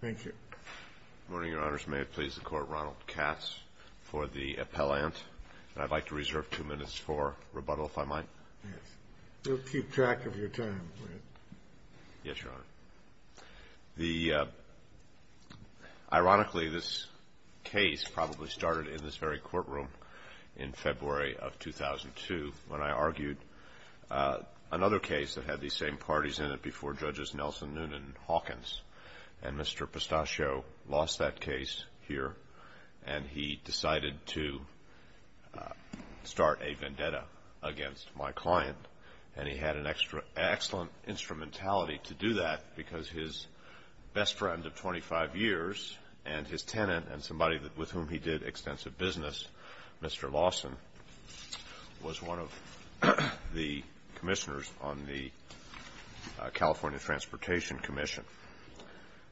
Thank you. Good morning, Your Honors. May it please the Court, Ronald Katz for the appellant. I'd like to reserve two minutes for rebuttal, if I might. Yes. We'll keep track of your time. Yes, Your Honor. Ironically, this case probably started in this very courtroom in February of 2002 when I argued another case that had these same parties in it before Judges Nelson, Noonan, and Hawkins. And Mr. Pistacchio lost that case here, and he decided to start a vendetta against my client. And he had an excellent instrumentality to do that because his best friend of 25 years and his tenant and somebody with whom he did extensive business, Mr. Lawson, was one of the commissioners on the California Transportation Commission.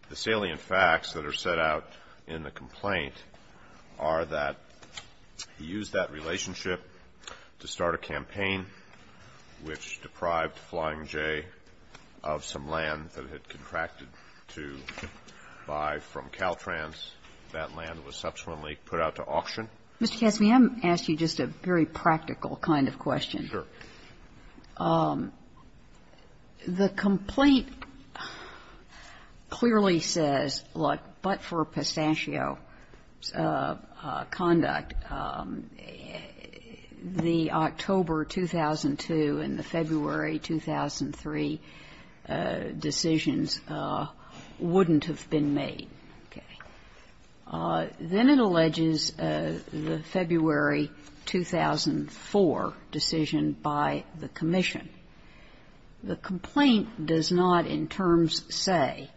The salient facts that are set out in the complaint are that he used that relationship to start a campaign which deprived Flying J of some land that it contracted to buy from Caltrans. That land was subsequently put out to auction. Mr. Katz, may I ask you just a very practical kind of question? Sure. The complaint clearly says, look, but for Pistacchio's conduct, the October 2002 and the February 2003 decisions wouldn't have been made. Okay. Then it alleges the February 2004 decision by the commission. The complaint does not in terms say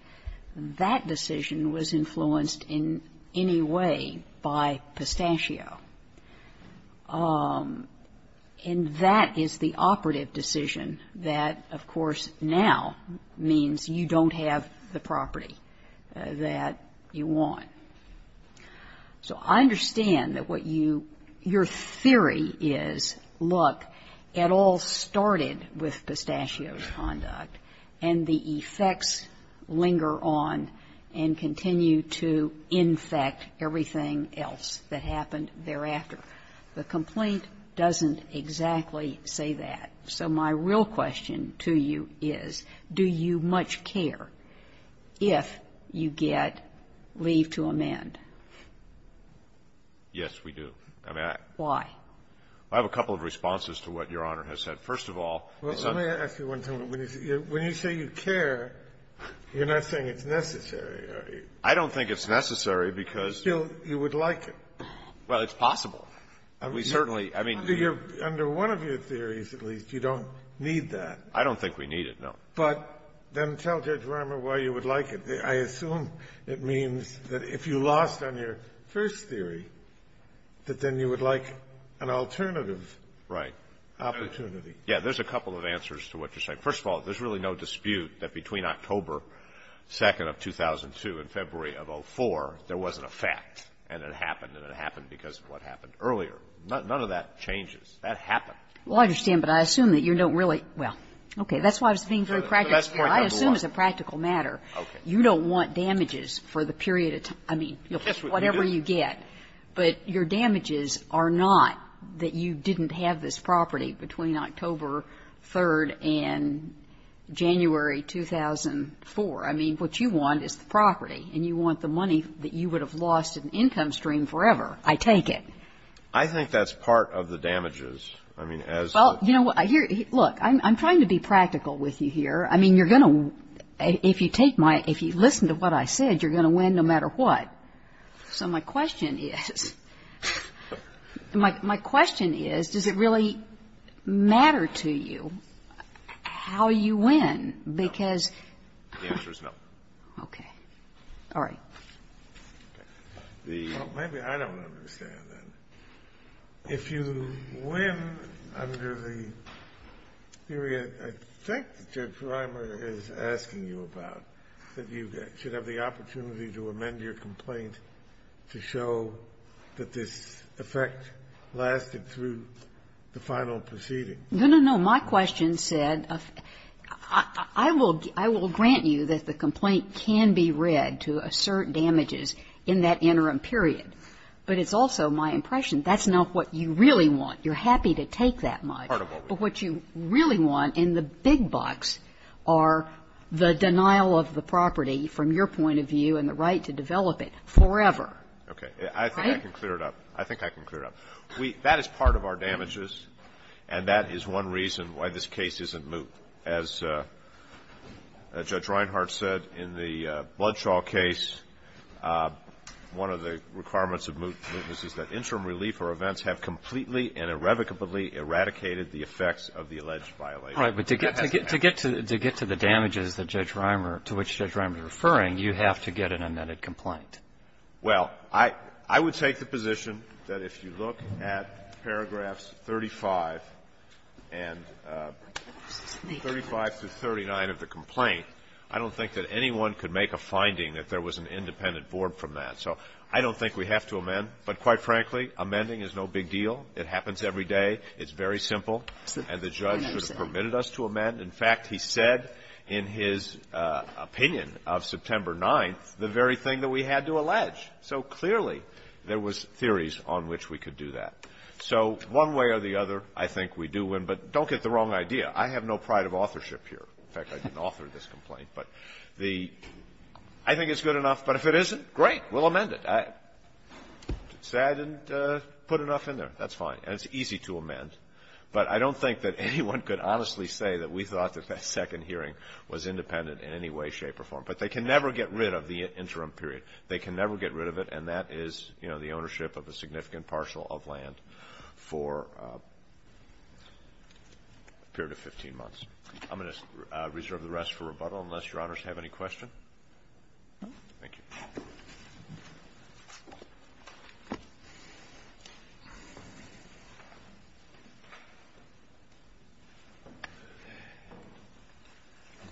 that decision was influenced in any way by Pistacchio. And that is the operative decision that, of course, now means you don't have the property that you want. So I understand that what you, your theory is, look, it all started with Pistacchio's conduct, and the effects linger on and continue to infect everything else that happened thereafter. The complaint doesn't exactly say that. So my real question to you is, do you much care if you get leave to amend? Yes, we do. Why? I have a couple of responses to what Your Honor has said. First of all, it's not the case. Well, let me ask you one thing. When you say you care, you're not saying it's necessary, are you? I don't think it's necessary, because you'll you would like it. Well, it's possible. We certainly, I mean, we Under one of your theories, at least, you don't need that. I don't think we need it, no. But then tell Judge Ramer why you would like it. I assume it means that if you lost on your first theory, that then you would like an alternative. Right. Opportunity. Yeah. There's a couple of answers to what you're saying. First of all, there's really no dispute that between October 2nd of 2002 and February of 2004, there was an effect, and it happened, and it happened because of what happened earlier. None of that changes. That happened. Well, I understand, but I assume that you don't really – well, okay. That's why I was being very practical. The best point of the law. I assume it's a practical matter. You don't want damages for the period of time. I mean, whatever you get. Yes, we do. Right. But your damages are not that you didn't have this property between October 3rd and January 2004. I mean, what you want is the property, and you want the money that you would have lost in income stream forever. I take it. I think that's part of the damages. I mean, as the – Well, you know what? Look, I'm trying to be practical with you here. I mean, you're going to – if you take my – if you listen to what I said, you're going to win no matter what. So my question is – my question is, does it really matter to you how you win? Because – The answer is no. Okay. All right. Well, maybe I don't understand that. If you win under the period I think Judge Reimer is asking you about, that you should amend your complaint to show that this effect lasted through the final proceeding. No, no, no. My question said, I will grant you that the complaint can be read to assert damages in that interim period. But it's also my impression that's not what you really want. You're happy to take that money. Part of what we want. But what you really want in the big bucks are the denial of the property from your point of view and the right to develop it forever. Okay. Right? I think I can clear it up. I think I can clear it up. That is part of our damages, and that is one reason why this case isn't moot. As Judge Reinhart said, in the Bloodshaw case, one of the requirements of mootness is that interim relief or events have completely and irrevocably eradicated the effects of the alleged violation. Right. But to get to the damages that Judge Reimer, to which Judge Reimer is referring, you have to get an amended complaint. Well, I would take the position that if you look at paragraphs 35 and 35 to 39 of the complaint, I don't think that anyone could make a finding that there was an independent board from that. So I don't think we have to amend. But quite frankly, amending is no big deal. It happens every day. It's very simple. And the judge should have permitted us to amend. In fact, he said in his opinion of September 9th the very thing that we had to allege. So clearly there was theories on which we could do that. So one way or the other, I think we do win. But don't get the wrong idea. I have no pride of authorship here. In fact, I didn't author this complaint. But the — I think it's good enough. But if it isn't, great. We'll amend it. Say I didn't put enough in there. That's fine. And it's easy to amend. But I don't think that anyone could honestly say that we thought that that second hearing was independent in any way, shape, or form. But they can never get rid of the interim period. They can never get rid of it. And that is, you know, the ownership of a significant parcel of land for a period of 15 months. I'm going to reserve the rest for rebuttal unless Your Honors have any questions. Thank you.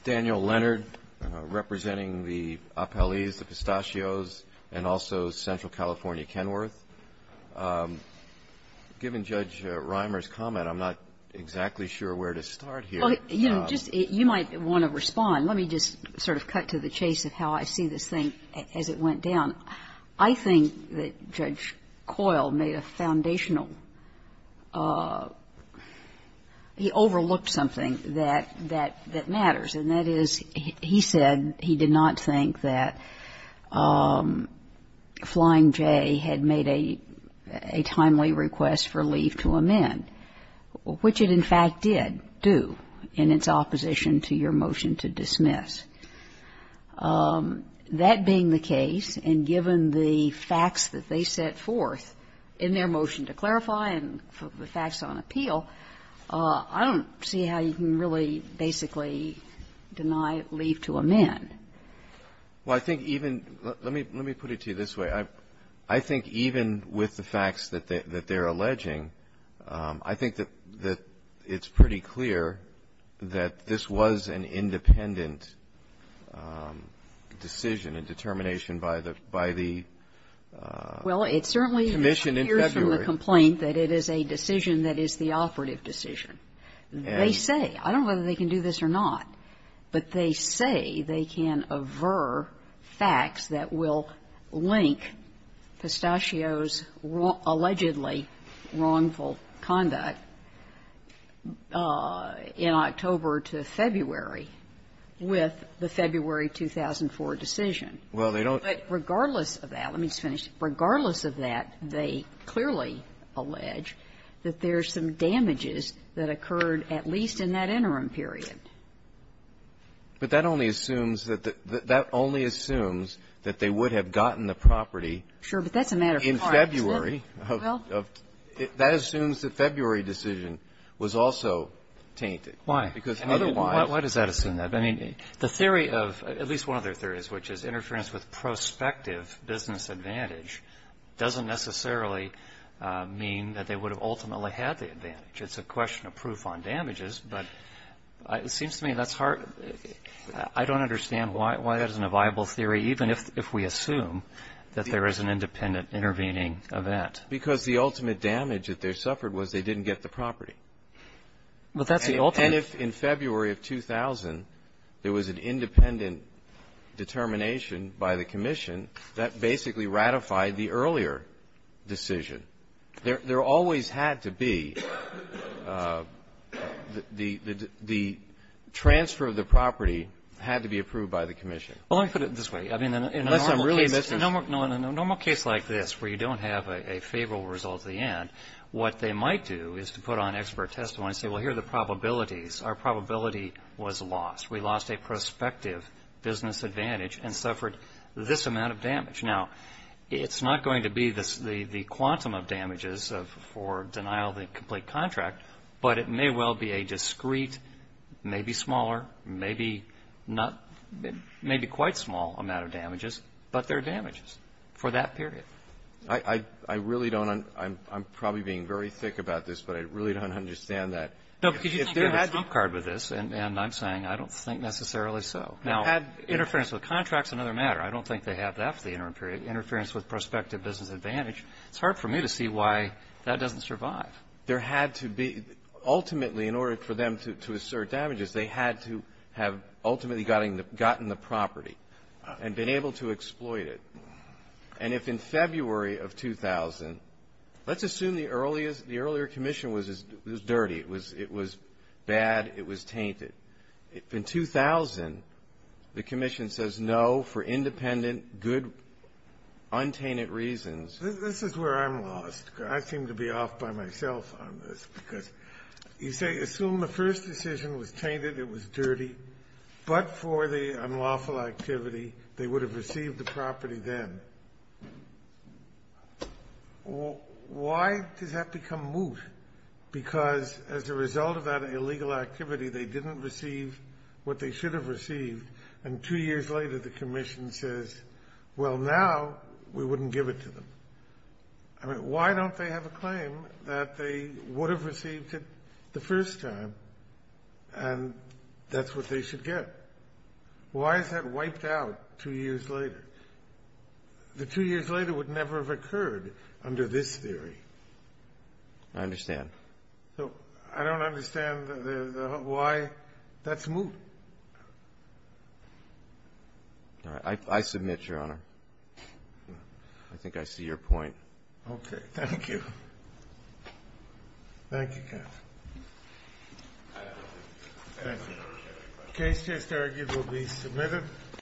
Daniel Leonard representing the Appellees, the Pistachios, and also Central California Kenworth. Given Judge Reimer's comment, I'm not exactly sure where to start here. Well, you know, just — you might want to respond. Let me just sort of cut to the chase of how I see this thing as it went down. I think that Judge Coyle made a foundational — he overlooked something that matters. And that is, he said he did not think that Flying J had made a timely request for your motion to dismiss. That being the case, and given the facts that they set forth in their motion to clarify and the facts on appeal, I don't see how you can really basically deny, leave to amend. Well, I think even — let me put it to you this way. I think even with the facts that they're alleging, I think that it's pretty clear that this was an independent decision and determination by the — by the commission in February. Well, it certainly appears from the complaint that it is a decision that is the operative decision. They say — I don't know whether they can do this or not, but they say they can aver facts that will link Pistachio's allegedly wrongful conduct in October to February with the February 2004 decision. Well, they don't — But regardless of that — let me just finish. Regardless of that, they clearly allege that there's some damages that occurred at least in that interim period. But that only assumes that the — that only assumes that they would have gotten the property in February of — Sure, but that's a matter for tomorrow, isn't it? Well — That assumes the February decision was also tainted. Why? Because otherwise — Why does that assume that? I mean, the theory of — at least one of their theories, which is interference with prospective business advantage, doesn't necessarily mean that they would have ultimately had the advantage. It's a question of proof on damages, but it seems to me that's hard — I don't understand why that isn't a viable theory, even if we assume that there is an independent intervening event. Because the ultimate damage that they suffered was they didn't get the property. But that's the ultimate — And if in February of 2000 there was an independent determination by the commission, that basically ratified the earlier decision. There always had to be — the transfer of the property had to be approved by the commission. Well, let me put it this way. I mean, in a normal case — Unless I'm really missing — No, in a normal case like this, where you don't have a favorable result at the end, what they might do is to put on expert testimony and say, well, here are the probabilities. Our probability was lost. We lost a prospective business advantage and suffered this amount of damage. Now, it's not going to be the quantum of damages for denial of the complete contract, but it may well be a discrete, maybe smaller, maybe not — maybe quite small amount of damages, but there are damages for that period. I really don't — I'm probably being very thick about this, but I really don't understand that. No, because you think they had a trump card with this, and I'm saying I don't think necessarily so. Now, interference with contracts is another matter. I don't think they have that for the interim period, interference with prospective business advantage. It's hard for me to see why that doesn't survive. There had to be — ultimately, in order for them to assert damages, they had to have ultimately gotten the property and been able to exploit it. And if in February of 2000 — let's assume the earlier commission was dirty. It was bad. It was tainted. If in 2000, the commission says no for independent, good, untainted reasons — This is where I'm lost. I seem to be off by myself on this, because you say, assume the first decision was tainted, it was dirty, but for the unlawful activity, they would have received the property then. Why does that become moot? Because as a result of that illegal activity, they didn't receive what they should have received, and two years later, the commission says, well, now we wouldn't give it to them. I mean, why don't they have a claim that they would have received it the first time and that's what they should get? Why is that wiped out two years later? The two years later would never have occurred under this theory. I understand. I don't understand why that's moot. I submit, Your Honor. I think I see your point. Okay. Thank you. Thank you, counsel. Thank you. The case just argued will be submitted.